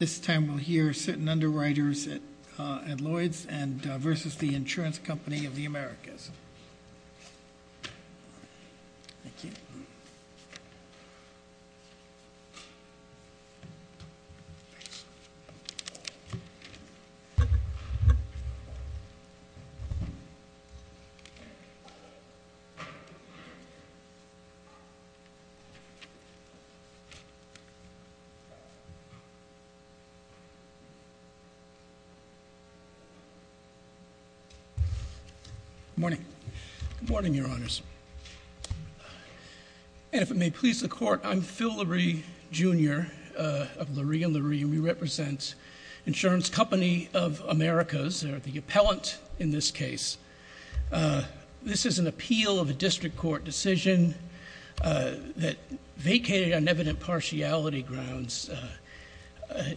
This time, we'll hear certain underwriters at Lloyd's versus the Insurance Company of the Americas. Thank you. Good morning. Good morning, Your Honors. And if it may please the Court, I'm Phil Lurie, Jr. of Lurie & Lurie, and we represent Insurance Company of Americas, or the appellant in this case. This is an appeal of a district court decision that vacated on evident partiality grounds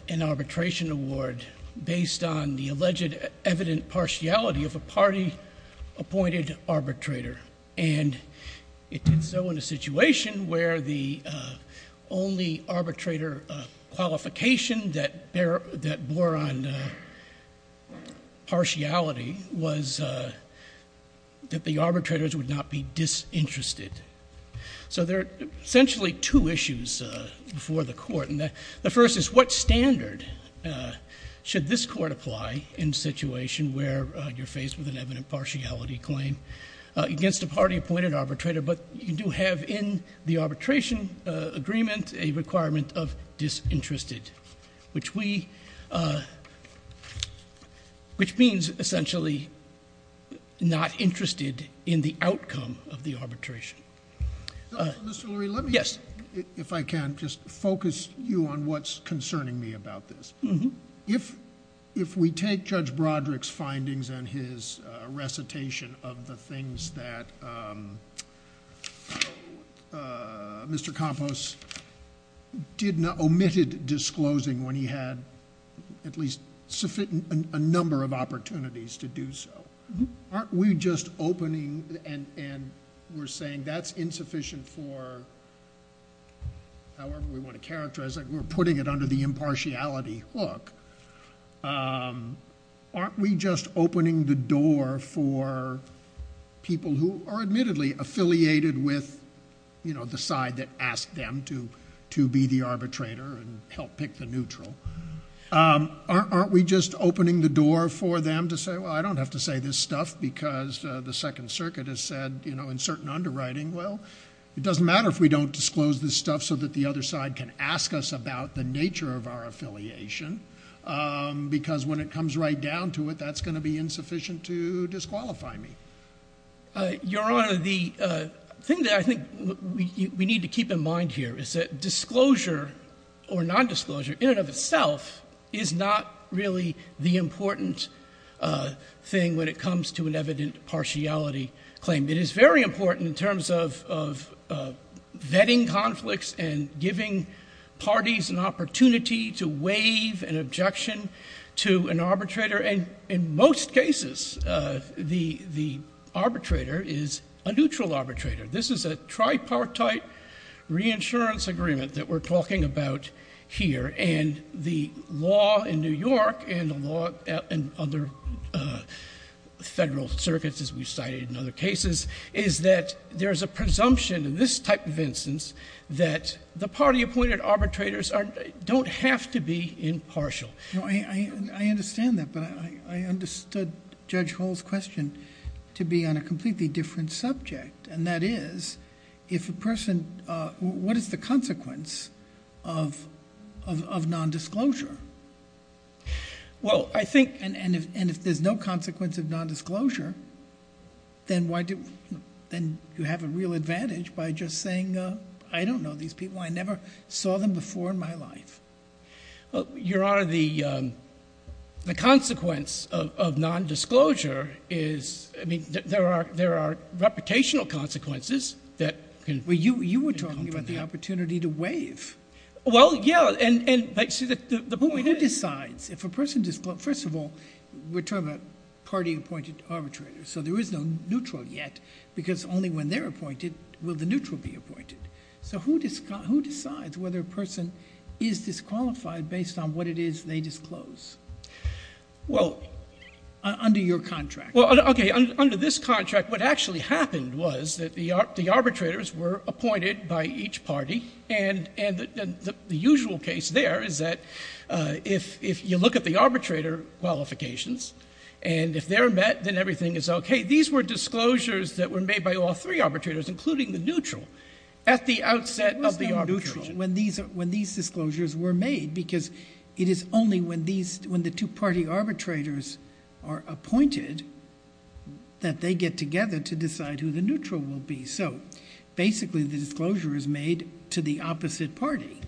an arbitration award based on the alleged evident partiality of a party-appointed arbitrator. And it did so in a situation where the only arbitrator qualification that bore on partiality was that the arbitrators would not be disinterested. So there are essentially two issues before the Court, and the first is what standard should this Court apply in a situation where you're faced with an evident partiality claim against a party-appointed arbitrator, but you do have in the arbitration agreement a requirement of disinterested, which means essentially not interested in the outcome of the arbitration. Mr. Lurie, let me, if I can, just focus you on what's concerning me about this. If we take Judge Broderick's findings and his recitation of the things that Mr. Campos omitted disclosing when he had at least a number of opportunities to do so, aren't we just opening, and we're saying that's insufficient for however we want to characterize it. We're putting it under the impartiality hook. Aren't we just opening the door for people who are admittedly affiliated with the side that asked them to be the arbitrator and help pick the neutral? Aren't we just opening the door for them to say, well, I don't have to say this stuff because the Second Circuit has said in certain underwriting, well, it doesn't matter if we don't disclose this stuff so that the other side can ask us about the nature of our affiliation because when it comes right down to it, that's going to be insufficient to disqualify me. Your Honor, the thing that I think we need to keep in mind here is that disclosure or nondisclosure in and of itself is not really the important thing when it comes to an evident partiality claim. It is very important in terms of vetting conflicts and giving parties an opportunity to waive an objection to an arbitrator, and in most cases, the arbitrator is a neutral arbitrator. This is a tripartite reinsurance agreement that we're talking about here, and the law in New York and the law in other federal circuits, as we've cited in other cases, is that there's a presumption in this type of instance that the party appointed arbitrators don't have to be impartial. I understand that, but I understood Judge Hall's question to be on a completely different subject, and that is, if a person... what is the consequence of nondisclosure? Well, I think... And if there's no consequence of nondisclosure, then you have a real advantage by just saying, I don't know these people. I never saw them before in my life. Your Honor, the consequence of nondisclosure is... I mean, there are reputational consequences that... Well, you were talking about the opportunity to waive. Well, yeah, and... If a person... first of all, we're talking about party appointed arbitrators, so there is no neutral yet, because only when they're appointed will the neutral be appointed. So who decides whether a person is disqualified based on what it is they disclose? Well... Under your contract. Well, okay, under this contract, what actually happened was that the arbitrators were appointed by each party, and the usual case there is that if you look at the arbitrator qualifications, and if they're met, then everything is okay. These were disclosures that were made by all three arbitrators, including the neutral, at the outset of the arbitration. When these disclosures were made, because it is only when the two party arbitrators are appointed that they get together to decide who the neutral will be. So, basically, the disclosure is made to the opposite party,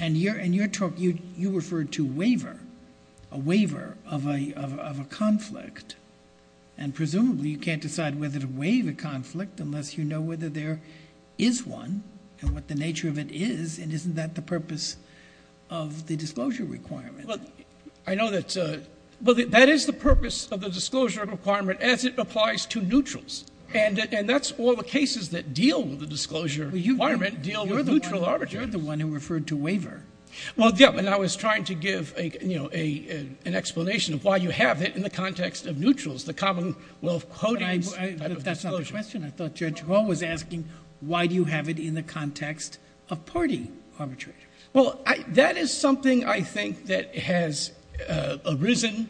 and you're... you referred to waiver, a waiver of a conflict, and presumably you can't decide whether to waive a conflict unless you know whether there is one, and what the nature of it is, and isn't that the purpose of the disclosure requirement? Well, I know that... Well, that is the purpose of the disclosure requirement as it applies to neutrals, and that's all the cases that deal with the disclosure requirement deal with the neutral arbitrator. You're the one who referred to waiver. Well, yeah, and I was trying to give, you know, an explanation of why you have it in the context of neutrals, the commonwealth quoting type of disclosures. That's not the question. I thought Judge Hall was asking why do you have it in the context of party arbitration. Well, that is something I think that has arisen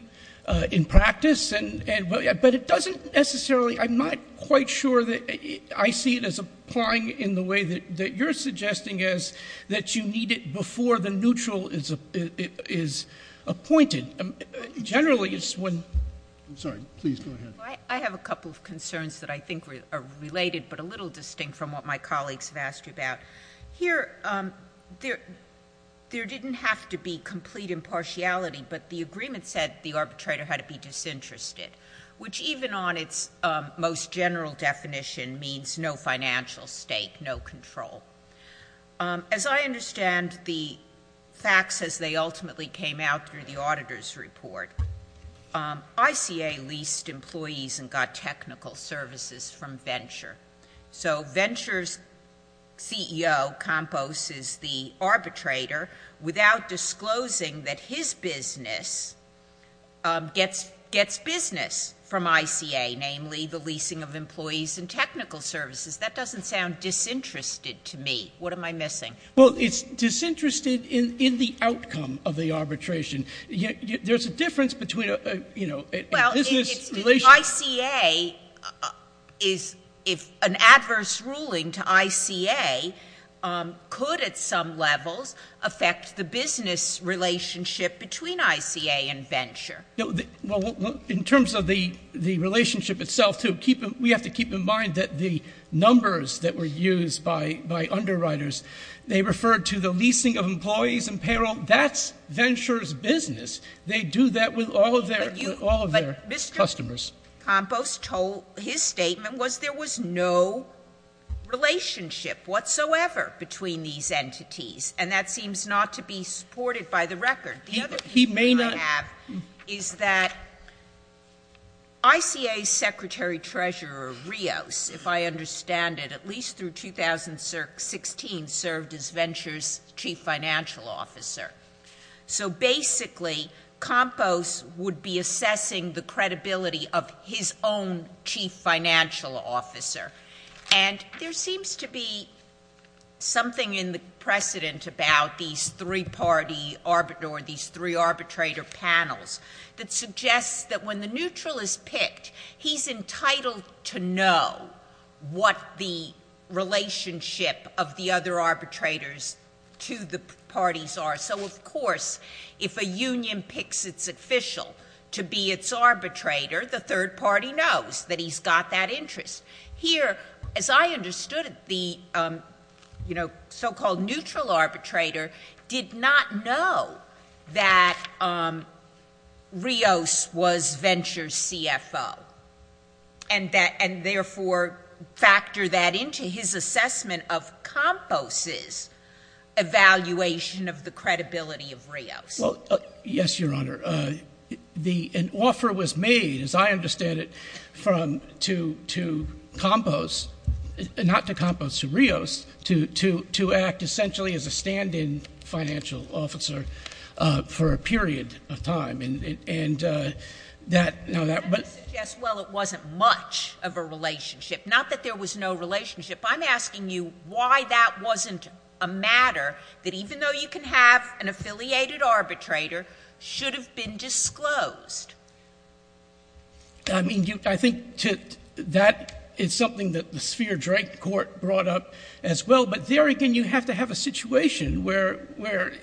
in practice, but it doesn't necessarily... I'm not quite sure that I see it as applying in the way that you're suggesting is that you need it before the neutral is appointed. Generally, it's when... I'm sorry. Please, go ahead. I have a couple of concerns that I think are related, but a little distinct from what my colleagues have asked you about. Here, there didn't have to be complete impartiality, but the agreement said the arbitrator had to be disinterested, which even on its most general definition means no financial stake, no control. As I understand the facts as they ultimately came out through the auditor's report, ICA leased employees and got technical services from Venture. So Venture's CEO, Compos, is the arbitrator without disclosing that his business gets business from ICA, namely the leasing of employees and technical services. That doesn't sound disinterested to me. What am I missing? Well, it's disinterested in the outcome of the arbitration. There's a difference between a business... Well, the ICA is, if an adverse ruling to ICA could at some levels affect the business relationship between ICA and Venture. Well, in terms of the relationship itself, too, we have to keep in mind that the numbers that were used by underwriters, they referred to the leasing of employees and payroll. That's Venture's business. They do that with all of their customers. But Mr. Compos told... his statement was there was no relationship whatsoever between these entities, and that seems not to be supported by the record. He may not... The other thing I have is that ICA's secretary treasurer, Rios, if I understand it, at least through 2016, served as Venture's chief financial officer. So basically, Compos would be assessing the credibility of his own chief financial officer. And there seems to be something in the precedent about these three-party... or these three arbitrator panels that suggests that when the neutral is picked, he's entitled to know what the relationship of the other arbitrators to the parties are. So, of course, if a union picks its official to be its arbitrator, the third party knows that he's got that interest. Here, as I understood it, the so-called neutral arbitrator did not know that Rios was Venture's CFO, and therefore factor that into his assessment of Compos' evaluation of the credibility of Rios. Well, yes, Your Honor. An offer was made, as I understand it, from... to Compos... not to Compos, to Rios, to act essentially as a stand-in financial officer for a period of time. And that... Well, it wasn't much of a relationship. Not that there was no relationship. I'm asking you why that wasn't a matter that, even though you can have an affiliated arbitrator, should have been disclosed. I mean, I think that is something that the Sphere drank court brought up as well. But there, again, you have to have a situation where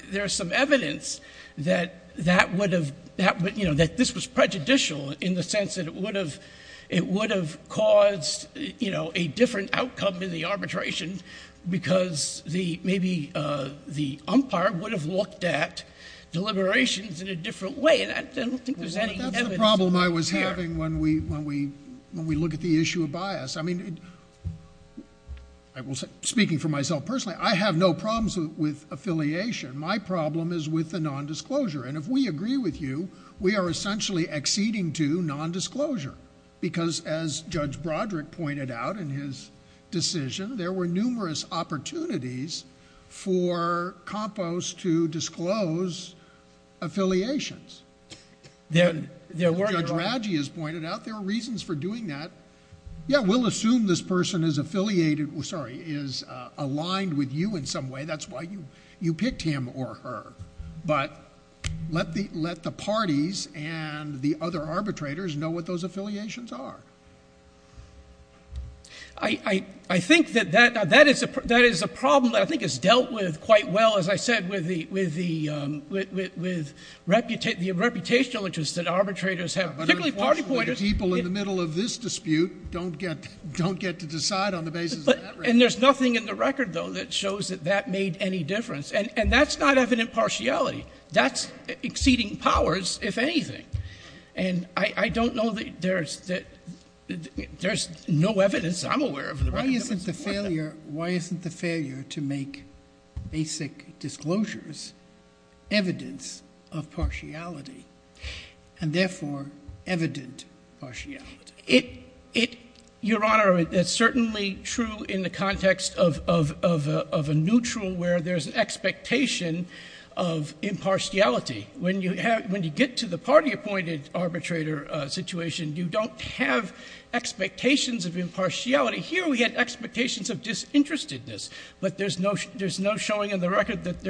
there's some evidence that that would have... that this was prejudicial in the sense that it would have caused a different outcome in the arbitration because maybe the umpire would have looked at deliberations in a different way. And I don't think there's any evidence... Well, that's the problem I was having when we look at the issue of bias. I mean, speaking for myself personally, I have no problems with affiliation. My problem is with the nondisclosure. And if we agree with you, we are essentially acceding to nondisclosure because, as Judge Broderick pointed out in his decision, there were numerous opportunities for Compos to disclose affiliations. There were... Judge Radji has pointed out there were reasons for doing that. Yeah, we'll assume this person is affiliated... sorry, is aligned with you in some way. That's why you picked him or her. But let the parties and the other arbitrators know what those affiliations are. I think that that is a problem that I think is dealt with quite well, as I said, with the reputational interest that arbitrators have. But unfortunately, the people in the middle of this dispute don't get to decide on the basis of that record. And there's nothing in the record, though, that shows that that made any difference. And that's not evident partiality. That's exceeding powers, if anything. And I don't know that there's no evidence. I'm aware of the record that doesn't support that. Why isn't the failure to make basic disclosures evidence of partiality? And therefore, evident partiality. Your Honor, that's certainly true in the context of a neutral where there's an expectation of impartiality. When you get to the party-appointed arbitrator situation, you don't have expectations of impartiality. Here we had expectations of disinterestedness. But there's no showing in the record that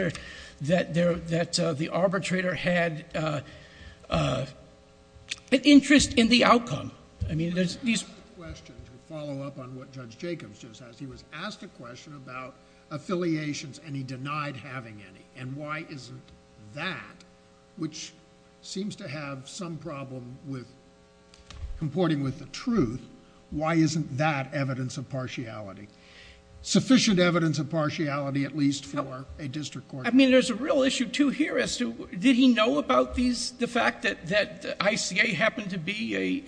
the arbitrator had an interest in the outcome. I mean, there's these questions that follow up on what Judge Jacobs just asked. He was asked a question about affiliations, and he denied having any. And why isn't that, which seems to have some problem with comporting with the truth, why isn't that evidence of partiality? Sufficient evidence of partiality, at least for a district court. I mean, there's a real issue, too, here as to did he know about the fact that ICA happened to be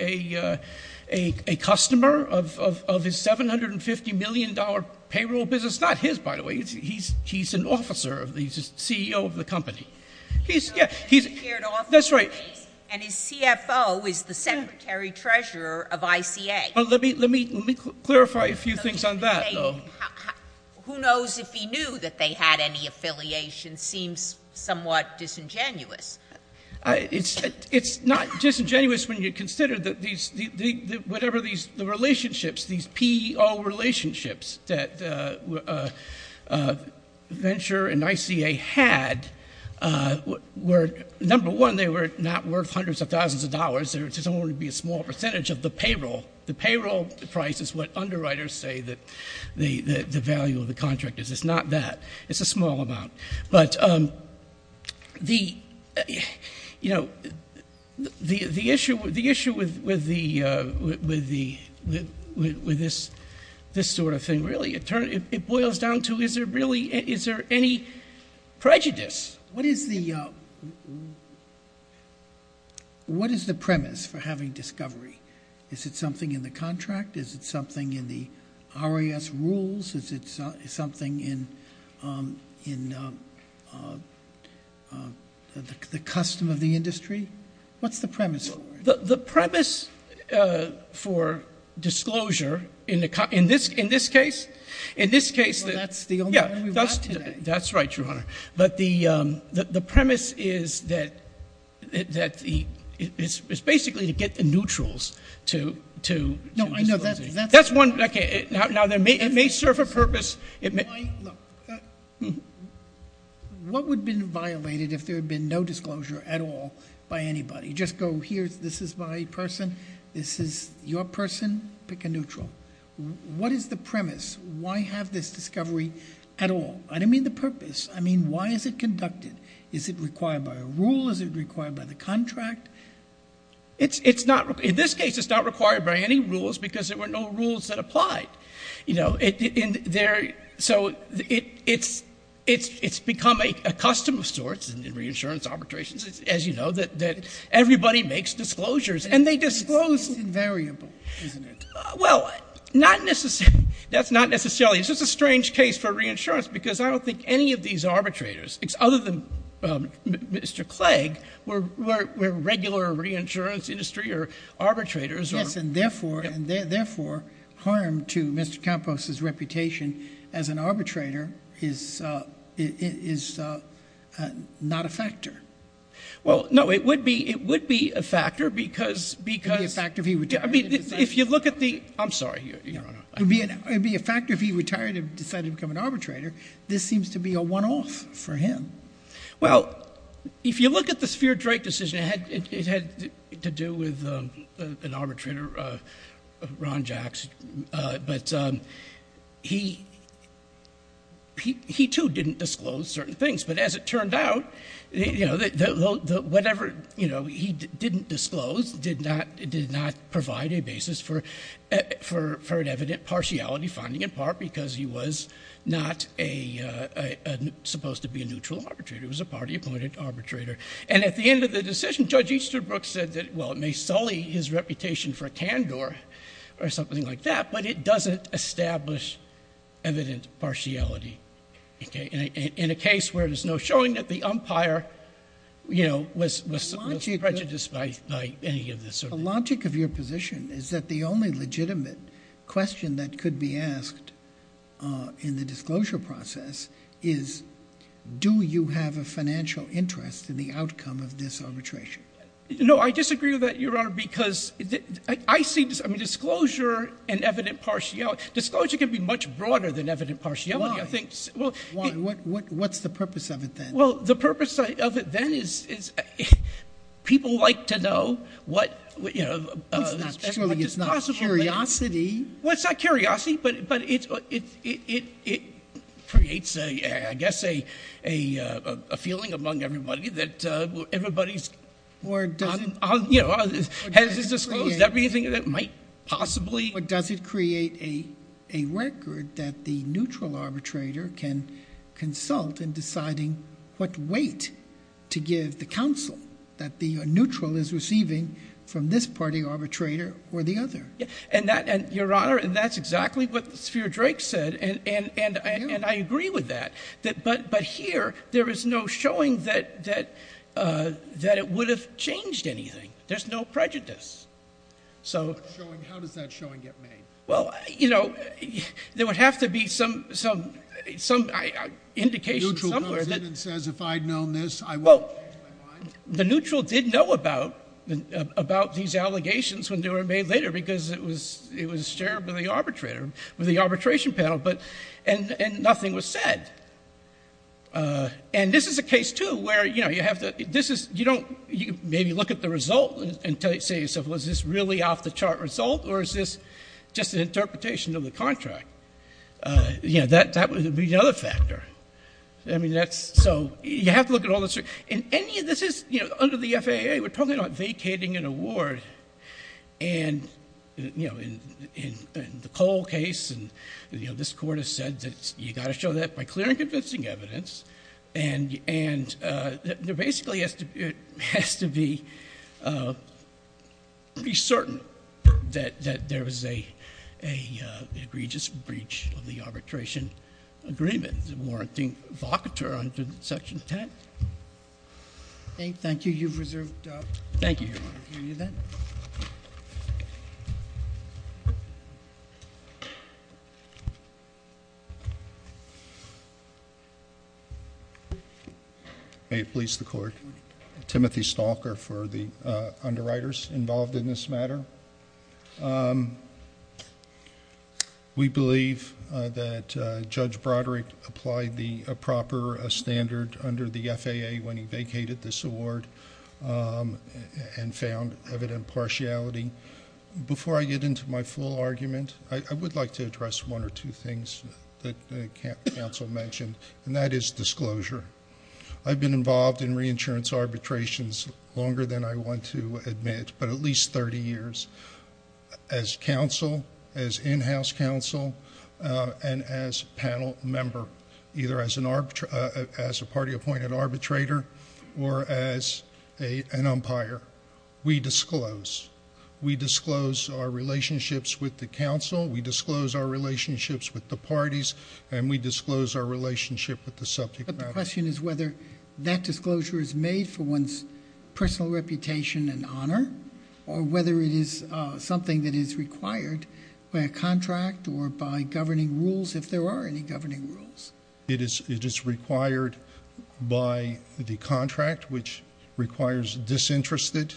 a customer of his $750 million payroll business? Not his, by the way. He's an officer. He's the CEO of the company. He's, yeah, he's. That's right. And his CFO is the secretary-treasurer of ICA. Let me clarify a few things on that, though. Who knows if he knew that they had any affiliations? Seems somewhat disingenuous. It's not disingenuous when you consider that these, whatever these relationships, these P-O relationships that venture and ICA had were, number one, they were not worth hundreds of thousands of dollars. There's only going to be a small percentage of the payroll. The payroll price is what underwriters say the value of the contract is. It's not that. It's a small amount. But, you know, the issue with this sort of thing, really, it boils down to is there really, is there any prejudice? What is the premise for having discovery? Is it something in the contract? Is it something in the RAS rules? Is it something in the custom of the industry? What's the premise for it? The premise for disclosure in this case, in this case. Well, that's the only time we've got today. That's right, Your Honor. But the premise is that it's basically to get the neutrals to disclose. That's one. Okay. Now, it may serve a purpose. What would have been violated if there had been no disclosure at all by anybody? Just go here, this is my person, this is your person, pick a neutral. What is the premise? Why have this discovery at all? I don't mean the purpose. I mean why is it conducted? Is it required by a rule? Is it required by the contract? It's not, in this case, it's not required by any rules because there were no rules that applied. You know, so it's become a custom of sorts in reinsurance arbitrations, as you know, that everybody makes disclosures and they disclose. It's invariable, isn't it? Well, not necessarily. That's not necessarily. It's just a strange case for reinsurance because I don't think any of these arbitrators, other than Mr. Clegg, were regular reinsurance industry or arbitrators. Yes, and, therefore, harm to Mr. Campos's reputation as an arbitrator is not a factor. Well, no, it would be a factor because... It would be a factor if he retired. I mean, if you look at the... I'm sorry, Your Honor. It would be a factor if he retired and decided to become an arbitrator. This seems to be a one-off for him. Well, if you look at the Spear-Drake decision, it had to do with an arbitrator, Ron Jacks, but he, too, didn't disclose certain things. But as it turned out, whatever he didn't disclose did not provide a basis for an evident partiality finding, in part because he was not supposed to be a neutral arbitrator. He was a party-appointed arbitrator. And at the end of the decision, Judge Easterbrook said that, well, it may sully his reputation for a candor or something like that, but it doesn't establish evident partiality. In a case where there's no showing that the umpire was prejudiced by any of this. The logic of your position is that the only legitimate question that could be asked in the disclosure process is, do you have a financial interest in the outcome of this arbitration? No, I disagree with that, Your Honor, because I see disclosure and evident partiality. Disclosure can be much broader than evident partiality. What's the purpose of it, then? Well, the purpose of it, then, is people like to know what is possible. It's not curiosity. Well, it's not curiosity, but it creates, I guess, a feeling among everybody that everybody has disclosed everything that might possibly. But does it create a record that the neutral arbitrator can consult in deciding what weight to give the counsel that the neutral is receiving from this party arbitrator or the other? And that, Your Honor, that's exactly what Sphere Drake said, and I agree with that. But here, there is no showing that it would have changed anything. There's no prejudice. How does that showing get made? Well, you know, there would have to be some indication somewhere. The neutral comes in and says, if I'd known this, I wouldn't have changed my mind? Well, the neutral did know about these allegations when they were made later because it was shared by the arbitrator, with the arbitration panel, and nothing was said. And this is a case, too, where you don't maybe look at the result and say to yourself, well, is this really off-the-chart result, or is this just an interpretation of the contract? You know, that would be the other factor. So you have to look at all this. Under the FAA, we're talking about vacating an award. And, you know, in the Cole case, and, you know, this Court has said that you've got to show that by clear and convincing evidence. And there basically has to be certain that there was an egregious breach of the arbitration agreement, warranting vocateur under Section 10. Thank you. You've reserved up. Thank you. Thank you. May it please the Court. Timothy Stalker for the underwriters involved in this matter. We believe that Judge Broderick applied the proper standard under the FAA when he vacated this award and found evident partiality. Before I get into my full argument, I would like to address one or two things that counsel mentioned, and that is disclosure. I've been involved in reinsurance arbitrations longer than I want to admit, but at least 30 years as counsel, as in-house counsel, and as panel member, either as a party-appointed arbitrator or as an umpire. We disclose. We disclose our relationships with the counsel. We disclose our relationships with the parties. And we disclose our relationship with the subject matter. But the question is whether that disclosure is made for one's personal reputation and honor or whether it is something that is required by a contract or by governing rules, if there are any governing rules. It is required by the contract, which requires disinterested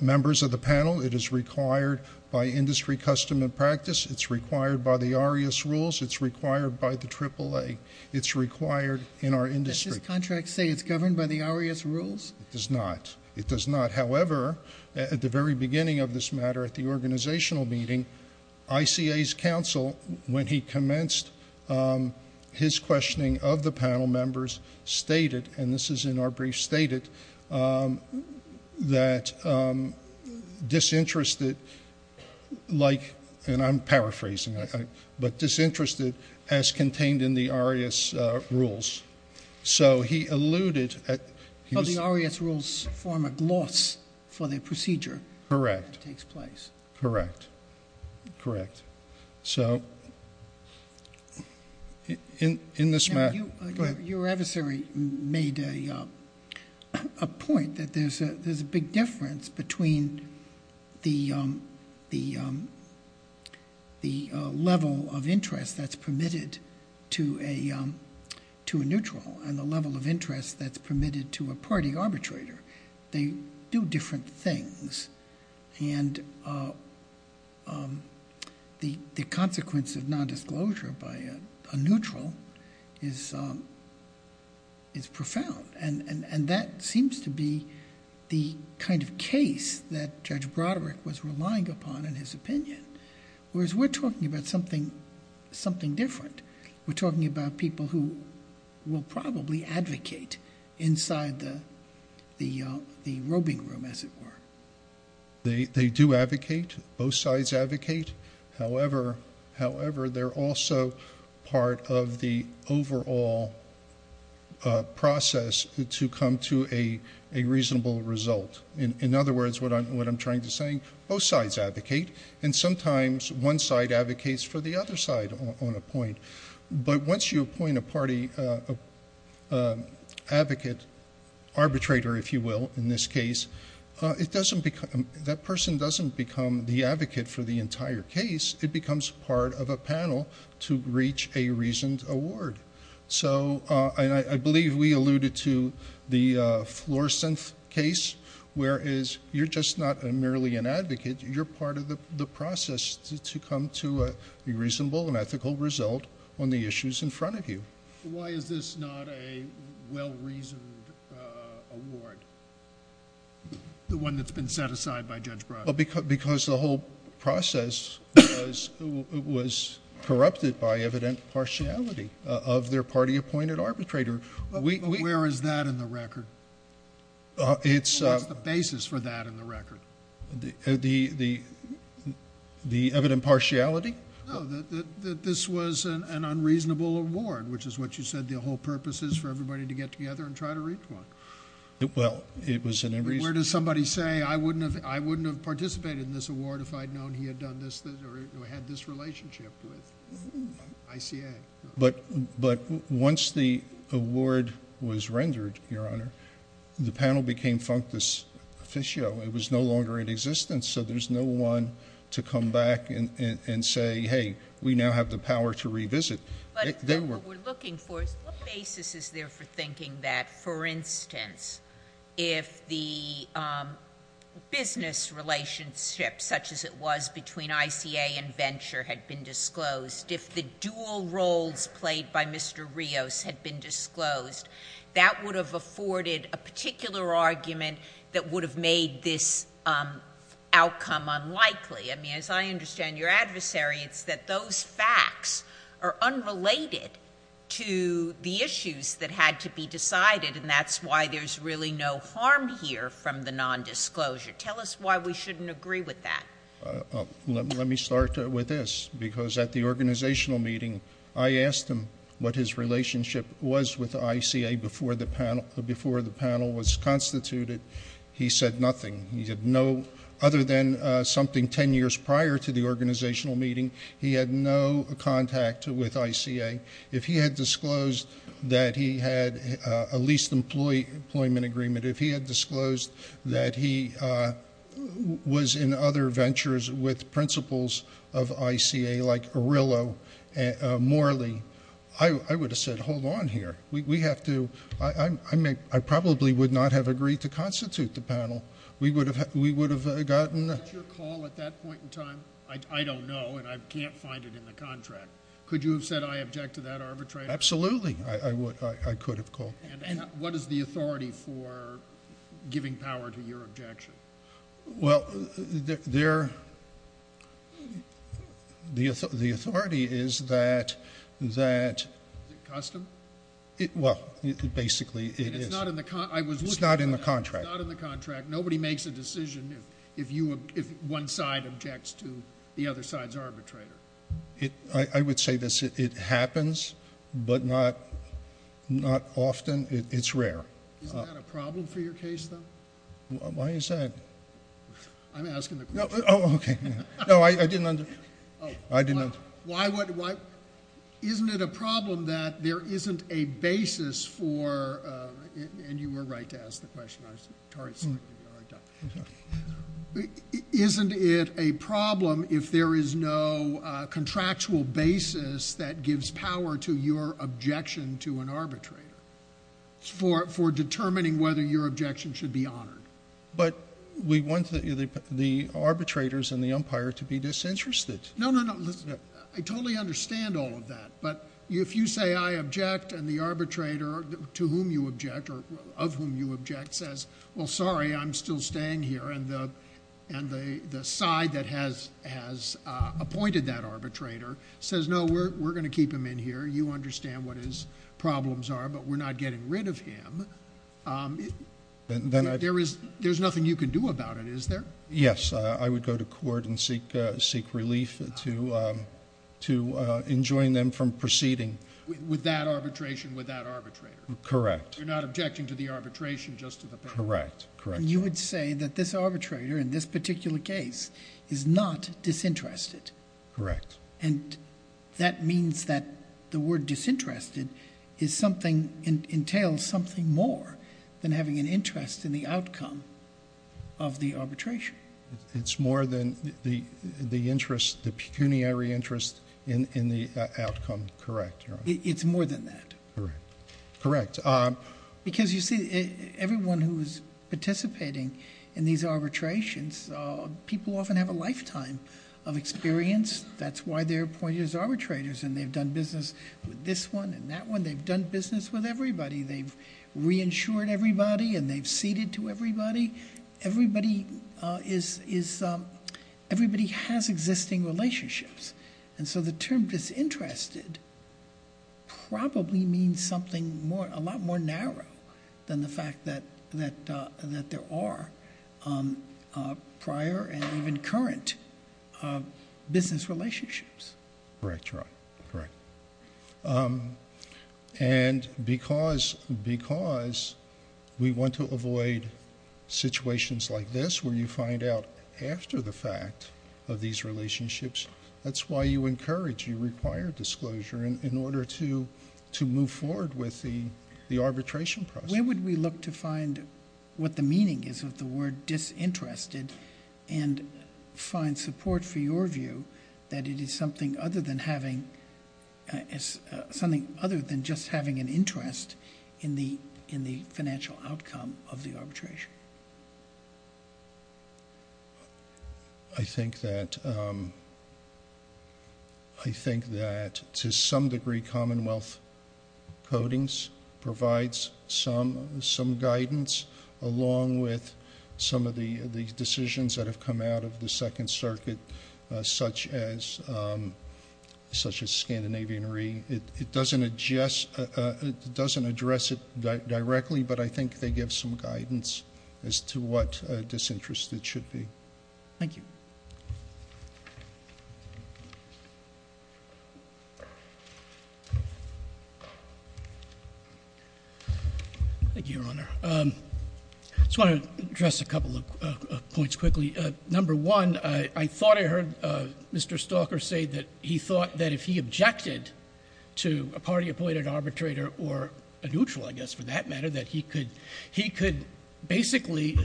members of the panel. It is required by industry custom and practice. It's required by the ARIAS rules. It's required by the AAA. It's required in our industry. Does this contract say it's governed by the ARIAS rules? It does not. It does not. However, at the very beginning of this matter, at the organizational meeting, ICA's counsel, when he commenced his questioning of the panel members, stated, and this is in our brief, stated, that disinterested, like, and I'm paraphrasing, but disinterested as contained in the ARIAS rules. So he alluded at the ARIAS rules form a gloss for the procedure that takes place. Correct. Correct. Correct. So in this matter. Your adversary made a point that there's a big difference between the level of interest that's permitted to a neutral and the level of interest that's permitted to a party arbitrator. They do different things. And the consequence of nondisclosure by a neutral is profound. And that seems to be the kind of case that Judge Broderick was relying upon in his opinion. Whereas we're talking about something different. We're talking about people who will probably advocate inside the roving room, as it were. They do advocate. Both sides advocate. However, they're also part of the overall process to come to a reasonable result. In other words, what I'm trying to say, both sides advocate. And sometimes one side advocates for the other side on a point. But once you appoint a party advocate, arbitrator, if you will, in this case, that person doesn't become the advocate for the entire case. It becomes part of a panel to reach a reasoned award. So I believe we alluded to the Floorsynth case, whereas you're just not merely an advocate. You're part of the process to come to a reasonable and ethical result on the issues in front of you. Why is this not a well-reasoned award, the one that's been set aside by Judge Broderick? Because the whole process was corrupted by evident partiality of their party-appointed arbitrator. Where is that in the record? What's the basis for that in the record? The evident partiality? No, that this was an unreasonable award, which is what you said the whole purpose is for everybody to get together and try to reach one. Well, it was an unreasonable award. Where does somebody say, I wouldn't have participated in this award if I'd known he had done this or had this relationship with ICA? But once the award was rendered, Your Honor, the panel became functus officio. It was no longer in existence, so there's no one to come back and say, hey, we now have the power to revisit. What we're looking for is what basis is there for thinking that, for instance, if the business relationship such as it was between ICA and Venture had been disclosed, if the dual roles played by Mr. Rios had been disclosed, that would have afforded a particular argument that would have made this outcome unlikely. I mean, as I understand your adversary, it's that those facts are unrelated to the issues that had to be decided, and that's why there's really no harm here from the nondisclosure. Tell us why we shouldn't agree with that. Let me start with this, because at the organizational meeting, I asked him what his relationship was with ICA before the panel was constituted. He said nothing. Other than something 10 years prior to the organizational meeting, he had no contact with ICA. If he had disclosed that he had a leased employment agreement, if he had disclosed that he was in other ventures with principals of ICA, like Arillo, Morley, I would have said, hold on here. We have to—I probably would not have agreed to constitute the panel. We would have gotten— Was that your call at that point in time? I don't know, and I can't find it in the contract. Could you have said, I object to that arbitration? Absolutely, I could have called. And what is the authority for giving power to your objection? Well, the authority is that— Is it custom? Well, basically it is. And it's not in the contract. It's not in the contract. It's not in the contract. Nobody makes a decision if one side objects to the other side's arbitrator. I would say this. It happens, but not often. It's rare. Isn't that a problem for your case, though? Why is that? I'm asking the question. Oh, okay. No, I didn't understand. Oh. I didn't understand. Isn't it a problem that there isn't a basis for—and you were right to ask the question. Isn't it a problem if there is no contractual basis that gives power to your objection to an arbitrator for determining whether your objection should be honored? But we want the arbitrators and the umpire to be disinterested. No, no, no. I totally understand all of that. But if you say I object and the arbitrator to whom you object or of whom you object says, well, sorry, I'm still staying here, and the side that has appointed that arbitrator says, no, we're going to keep him in here. You understand what his problems are, but we're not getting rid of him, there's nothing you can do about it, is there? Yes. I would go to court and seek relief to enjoin them from proceeding. With that arbitration with that arbitrator? Correct. You're not objecting to the arbitration just to the power? Correct. You would say that this arbitrator in this particular case is not disinterested. Correct. And that means that the word disinterested entails something more than having an interest in the outcome of the arbitration. It's more than the interest, the pecuniary interest in the outcome. Correct. It's more than that. Correct. Correct. Because you see, everyone who is participating in these arbitrations, people often have a lifetime of experience. That's why they're appointed as arbitrators, and they've done business with this one and that one. They've done business with everybody. They've reinsured everybody and they've ceded to everybody. Everybody has existing relationships. And so the term disinterested probably means something a lot more narrow than the fact that there are prior and even current business relationships. Correct. Correct. Correct. And because we want to avoid situations like this where you find out after the fact of these relationships, that's why you encourage, you require disclosure in order to move forward with the arbitration process. Where would we look to find what the meaning is of the word disinterested and find support for your view that it is something other than having, something other than just having an interest in the financial outcome of the arbitration? I think that to some degree Commonwealth Codings provides some guidance along with some of the decisions that have come out of the Second Circuit, such as Scandinavian Re. It doesn't address it directly, but I think they give some guidance as to what disinterested should be. Thank you. Thank you, Your Honor. I just want to address a couple of points quickly. Number one, I thought I heard Mr. Stalker say that he thought that if he objected to a party-appointed arbitrator or a neutral, I guess, for that matter, that he could basically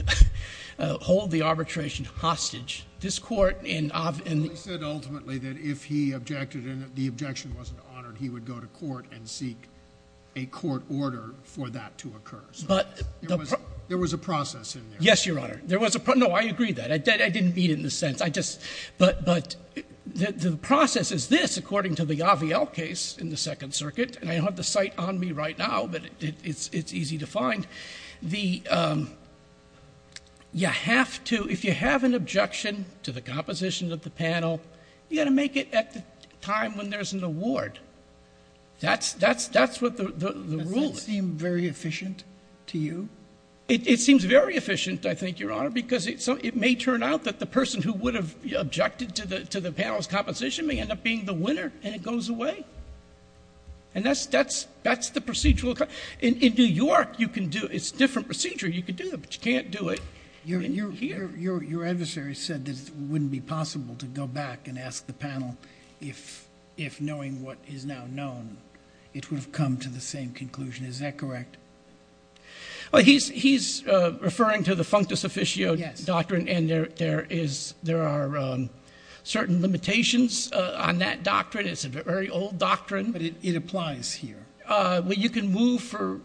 hold the arbitration hostage. This Court in— Well, he said ultimately that if he objected and the objection wasn't honored, he would go to court and seek a court order for that to occur. There was a process in there. Yes, Your Honor. No, I agree with that. I didn't mean it in this sense. I just, but the process is this, according to the Aviel case in the Second Circuit, and I don't have the site on me right now, but it's easy to find. The, you have to, if you have an objection to the composition of the panel, you've got to make it at the time when there's an award. That's what the rule is. Does that seem very efficient to you? It seems very efficient, I think, Your Honor, because it may turn out that the person who would have objected to the panel's composition may end up being the winner, and it goes away. And that's the procedural. In New York, you can do it. It's a different procedure. You can do it, but you can't do it here. Your adversary said that it wouldn't be possible to go back and ask the panel if, knowing what is now known, it would have come to the same conclusion. Is that correct? Well, he's referring to the functus officio doctrine, and there is, there are certain limitations on that doctrine. It's a very old doctrine. But it applies here. Well, you can move for,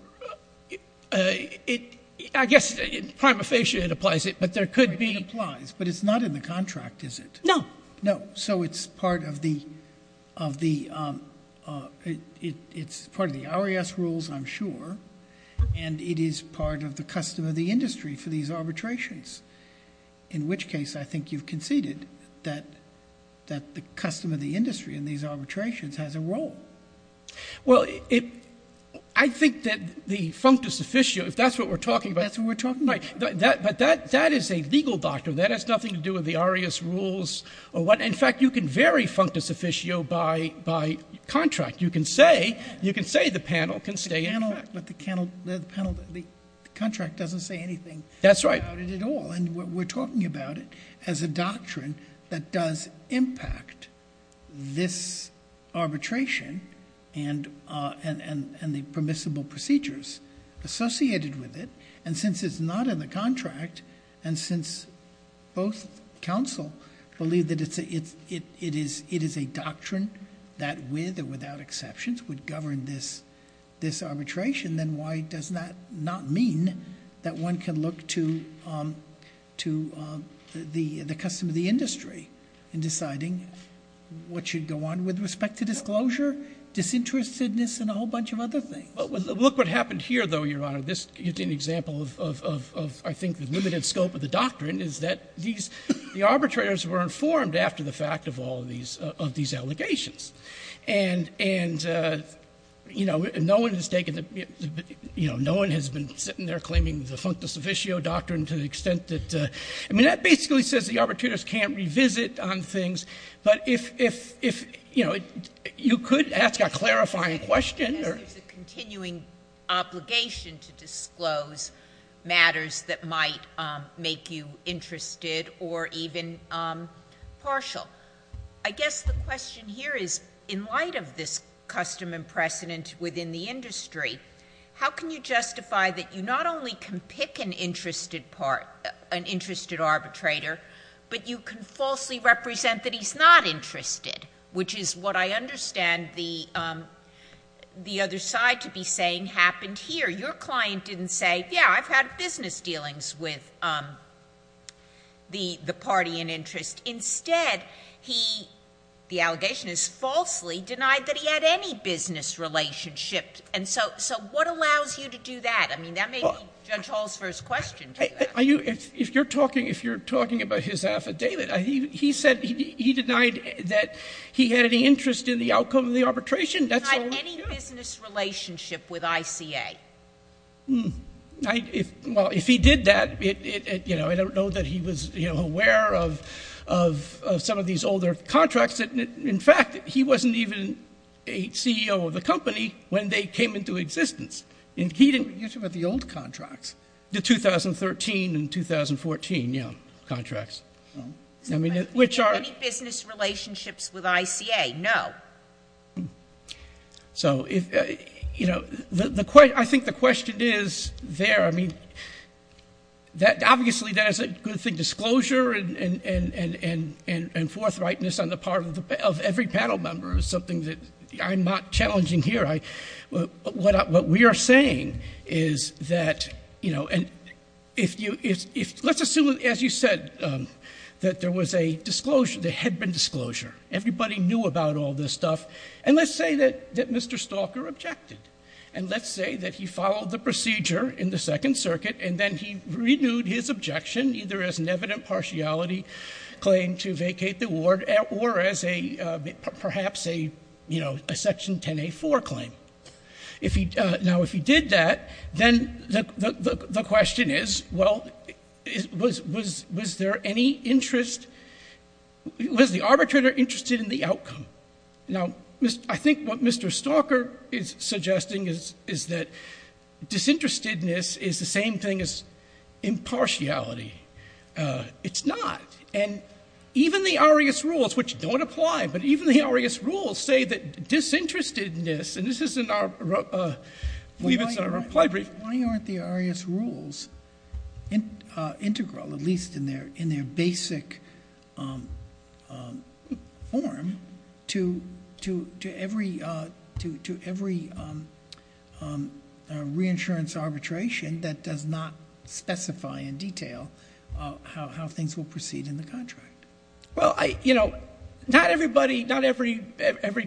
I guess, in prima facie it applies it, but there could be. It applies, but it's not in the contract, is it? No. So it's part of the, it's part of the RAS rules, I'm sure, and it is part of the custom of the industry for these arbitrations, in which case I think you've conceded that the custom of the industry in these arbitrations has a role. Well, I think that the functus officio, if that's what we're talking about. That's what we're talking about. Right. But that is a legal doctrine. That has nothing to do with the RAS rules or what. In fact, you can vary functus officio by contract. You can say, you can say the panel can stay in effect. But the panel, the contract doesn't say anything about it at all. That's right. And we're talking about it as a doctrine that does impact this arbitration and the permissible procedures associated with it. And since it's not in the contract, and since both counsel believe that it is a doctrine that with or without exceptions would govern this arbitration, then why does that not mean that one can look to the custom of the industry in deciding what should go on with respect to disclosure, disinterestedness, and a whole bunch of other things? Well, look what happened here, though, Your Honor. This is an example of, I think, the limited scope of the doctrine is that these arbitrators were informed after the fact of all of these allegations. And, you know, no one has taken the, you know, no one has been sitting there claiming the functus officio doctrine to the extent that, I mean, that basically says the arbitrators can't revisit on things. But if, you know, you could ask a clarifying question. And there's a continuing obligation to disclose matters that might make you interested or even partial. I guess the question here is, in light of this custom and precedent within the industry, how can you justify that you not only can pick an interested arbitrator, but you can falsely represent that he's not interested, which is what I understand the other side to be saying happened here. Your client didn't say, yeah, I've had business dealings with the party in interest. Instead, he, the allegation is falsely denied that he had any business relationship. And so what allows you to do that? I mean, that may be Judge Hall's first question to you. If you're talking about his affidavit, he said he denied that he had any interest in the outcome of the arbitration. He denied any business relationship with ICA. Well, if he did that, you know, I don't know that he was aware of some of these older contracts. In fact, he wasn't even a CEO of the company when they came into existence. You're talking about the old contracts. The 2013 and 2014, yeah, contracts. Any business relationships with ICA? No. So, you know, I think the question is there. I mean, obviously that is a good thing. Disclosure and forthrightness on the part of every panel member is something that I'm not challenging here. What we are saying is that, you know, and let's assume, as you said, that there was a disclosure, there had been disclosure. Everybody knew about all this stuff. And let's say that Mr. Stalker objected. And let's say that he followed the procedure in the Second Circuit, and then he renewed his objection, either as an evident partiality claim to vacate the ward or as a perhaps a, you know, a Section 10A4 claim. Now, if he did that, then the question is, well, was there any interest? Was the arbitrator interested in the outcome? Now, I think what Mr. Stalker is suggesting is that disinterestedness is the same thing as impartiality. It's not. And even the ARIAS rules, which don't apply, but even the ARIAS rules say that disinterestedness, and this isn't our play brief. Why aren't the ARIAS rules integral, at least in their basic form, to every reinsurance arbitration that does not specify in detail how things will proceed in the contract? Well, you know, not everybody, not every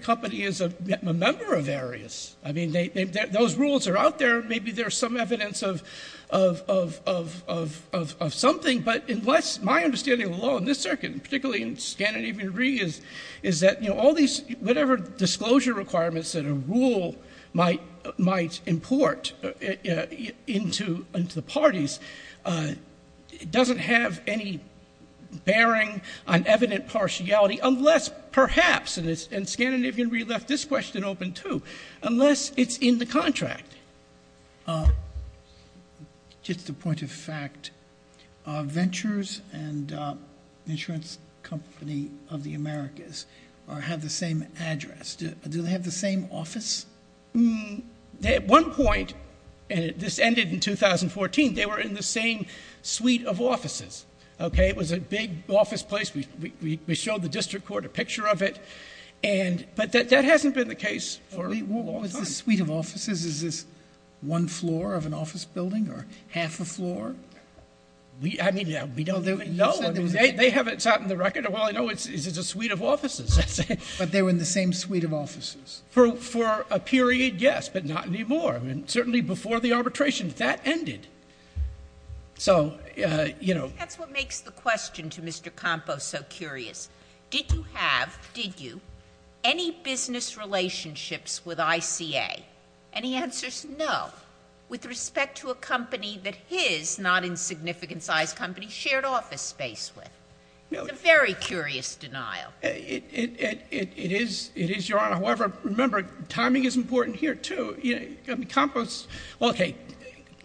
company is a member of ARIAS. I mean, those rules are out there. Maybe there's some evidence of something. But unless my understanding of the law in this circuit, particularly in Scandinavian Re, is that, you know, all these, whatever disclosure requirements that a rule might import into the parties, it doesn't have any bearing on evident partiality unless perhaps, and Scandinavian Re left this question open too, unless it's in the contract. Just a point of fact, Ventures and Insurance Company of the Americas have the same address. Do they have the same office? At one point, and this ended in 2014, they were in the same suite of offices. Okay? It was a big office place. We showed the district court a picture of it. But that hasn't been the case for a long time. What was the suite of offices? Is this one floor of an office building or half a floor? I mean, we don't even know. They haven't sat in the record. All I know is it's a suite of offices. But they were in the same suite of offices. For a period, yes, but not anymore. I mean, certainly before the arbitration. That ended. So, you know. That's what makes the question to Mr. Campos so curious. Did you have, did you, any business relationships with ICA? And he answers no. With respect to a company that his not insignificant size company shared office space with. It's a very curious denial. It is, Your Honor. However, remember, timing is important here, too. Campos, okay.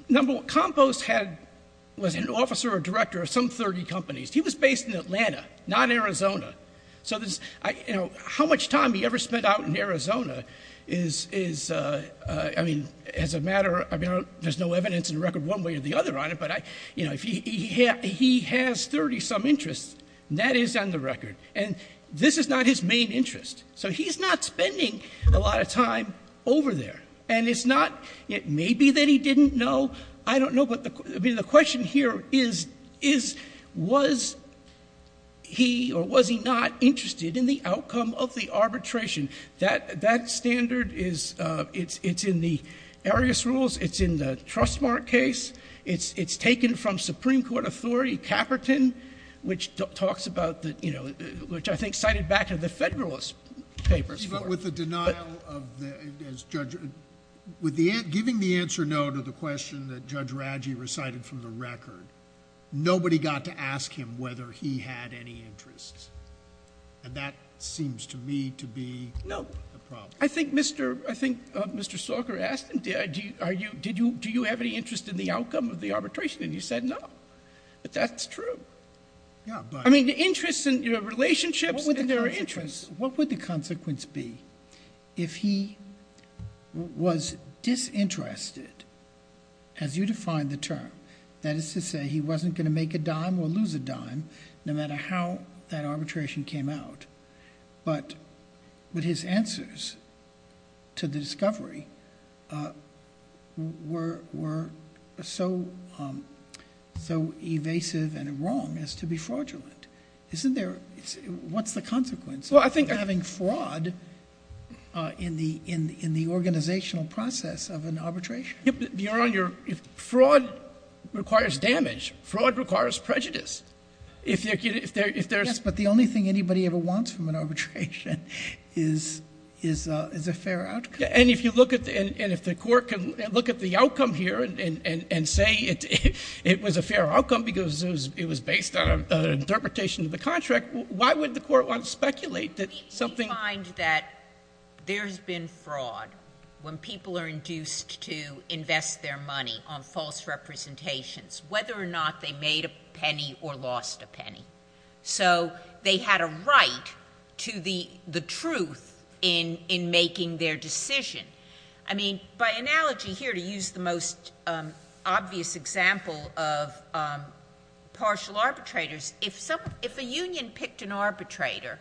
Number one, Campos was an officer or director of some 30 companies. He was based in Atlanta, not Arizona. So, you know, how much time he ever spent out in Arizona is, I mean, as a matter of, I mean, there's no evidence in the record one way or the other on it. But, you know, he has 30 some interests. That is on the record. And this is not his main interest. So he's not spending a lot of time over there. And it's not, it may be that he didn't know. I don't know. But the question here is, was he or was he not interested in the outcome of the arbitration? That standard is, it's in the Arius Rules. It's in the Trustmark case. It's taken from Supreme Court authority, Caperton, which talks about the, you know, which I think cited back to the Federalist Papers. With the denial of, with giving the answer no to the question that Judge Radgey recited from the record, nobody got to ask him whether he had any interests. And that seems to me to be the problem. No, I think Mr. Stalker asked him, do you have any interest in the outcome of the arbitration? And he said no. But that's true. Yes, but... I mean, interests in, you know, relationships, and there are interests. What would the consequence be if he was disinterested, as you defined the term, that is to say he wasn't going to make a dime or lose a dime, no matter how that arbitration came out, but his answers to the discovery were so evasive and wrong as to be fraudulent. Isn't there, what's the consequence? Well, I think... Having fraud in the organizational process of an arbitration. Your Honor, if fraud requires damage, fraud requires prejudice. If there's... Yes, but the only thing anybody ever wants from an arbitration is a fair outcome. And if you look at, and if the Court can look at the outcome here and say it was a fair outcome because it was based on an interpretation of the contract, why would the Court want to speculate that something... We find that there has been fraud when people are induced to invest their money on false representations, whether or not they made a penny or lost a penny. So they had a right to the truth in making their decision. I mean, by analogy here, to use the most obvious example of partial arbitrators, if a union picked an arbitrator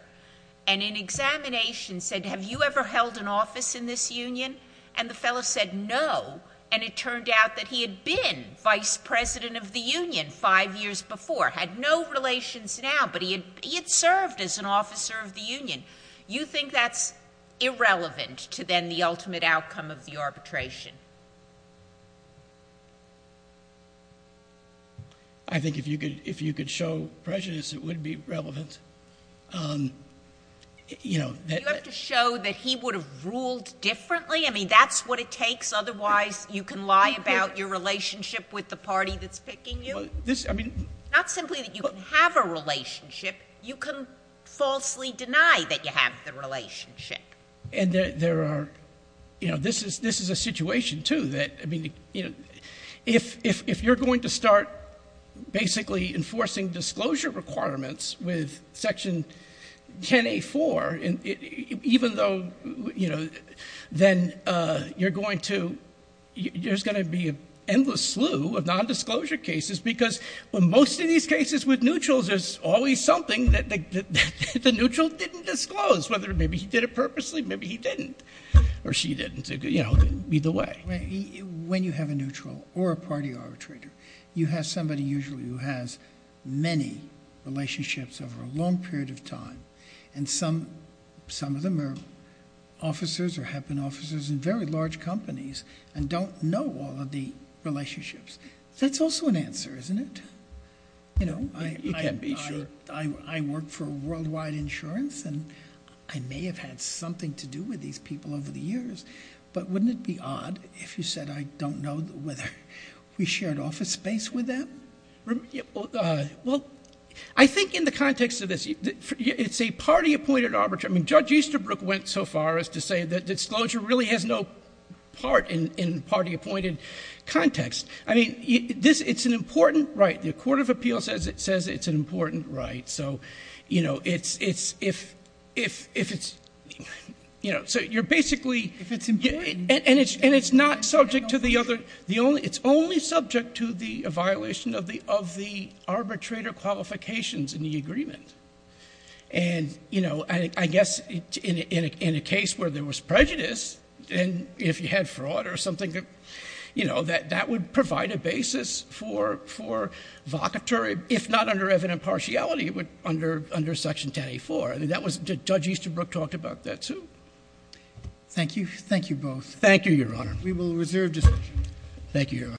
and in examination said, have you ever held an office in this union, and the fellow said no, and it turned out that he had been vice president of the union five years before, had no relations now, but he had served as an officer of the union, you think that's irrelevant to then the ultimate outcome of the arbitration? I think if you could show prejudice, it would be relevant. You have to show that he would have ruled differently? I mean, that's what it takes? Otherwise, you can lie about your relationship with the party that's picking you? Not simply that you can have a relationship. You can falsely deny that you have the relationship. And there are... This is a situation, too, that if you're going to start basically enforcing disclosure requirements with Section 10A4, even though then you're going to... There's going to be an endless slew of nondisclosure cases because in most of these cases with neutrals, there's always something that the neutral didn't disclose, whether maybe he did it purposely, maybe he didn't, or she didn't. Either way. When you have a neutral or a party arbitrator, you have somebody usually who has many relationships over a long period of time, and some of them are officers or have been officers in very large companies and don't know all of the relationships. That's also an answer, isn't it? You can't be sure. I work for Worldwide Insurance, and I may have had something to do with these people over the years. But wouldn't it be odd if you said, I don't know whether we shared office space with them? Well, I think in the context of this, it's a party-appointed arbitration. Judge Easterbrook went so far as to say that disclosure really has no part in party-appointed context. I mean, it's an important right. The Court of Appeals says it's an important right. So, you know, if it's... So you're basically... If it's important... And it's not subject to the other... It's only subject to the violation of the arbitrator qualifications in the agreement. And, you know, I guess in a case where there was prejudice, and if you had fraud or something, you know, that would provide a basis for vocatory, if not under evident partiality, under Section 10A4. Judge Easterbrook talked about that, too. Thank you. Thank you both. Thank you, Your Honor. We will reserve discussion. Thank you, Your Honor.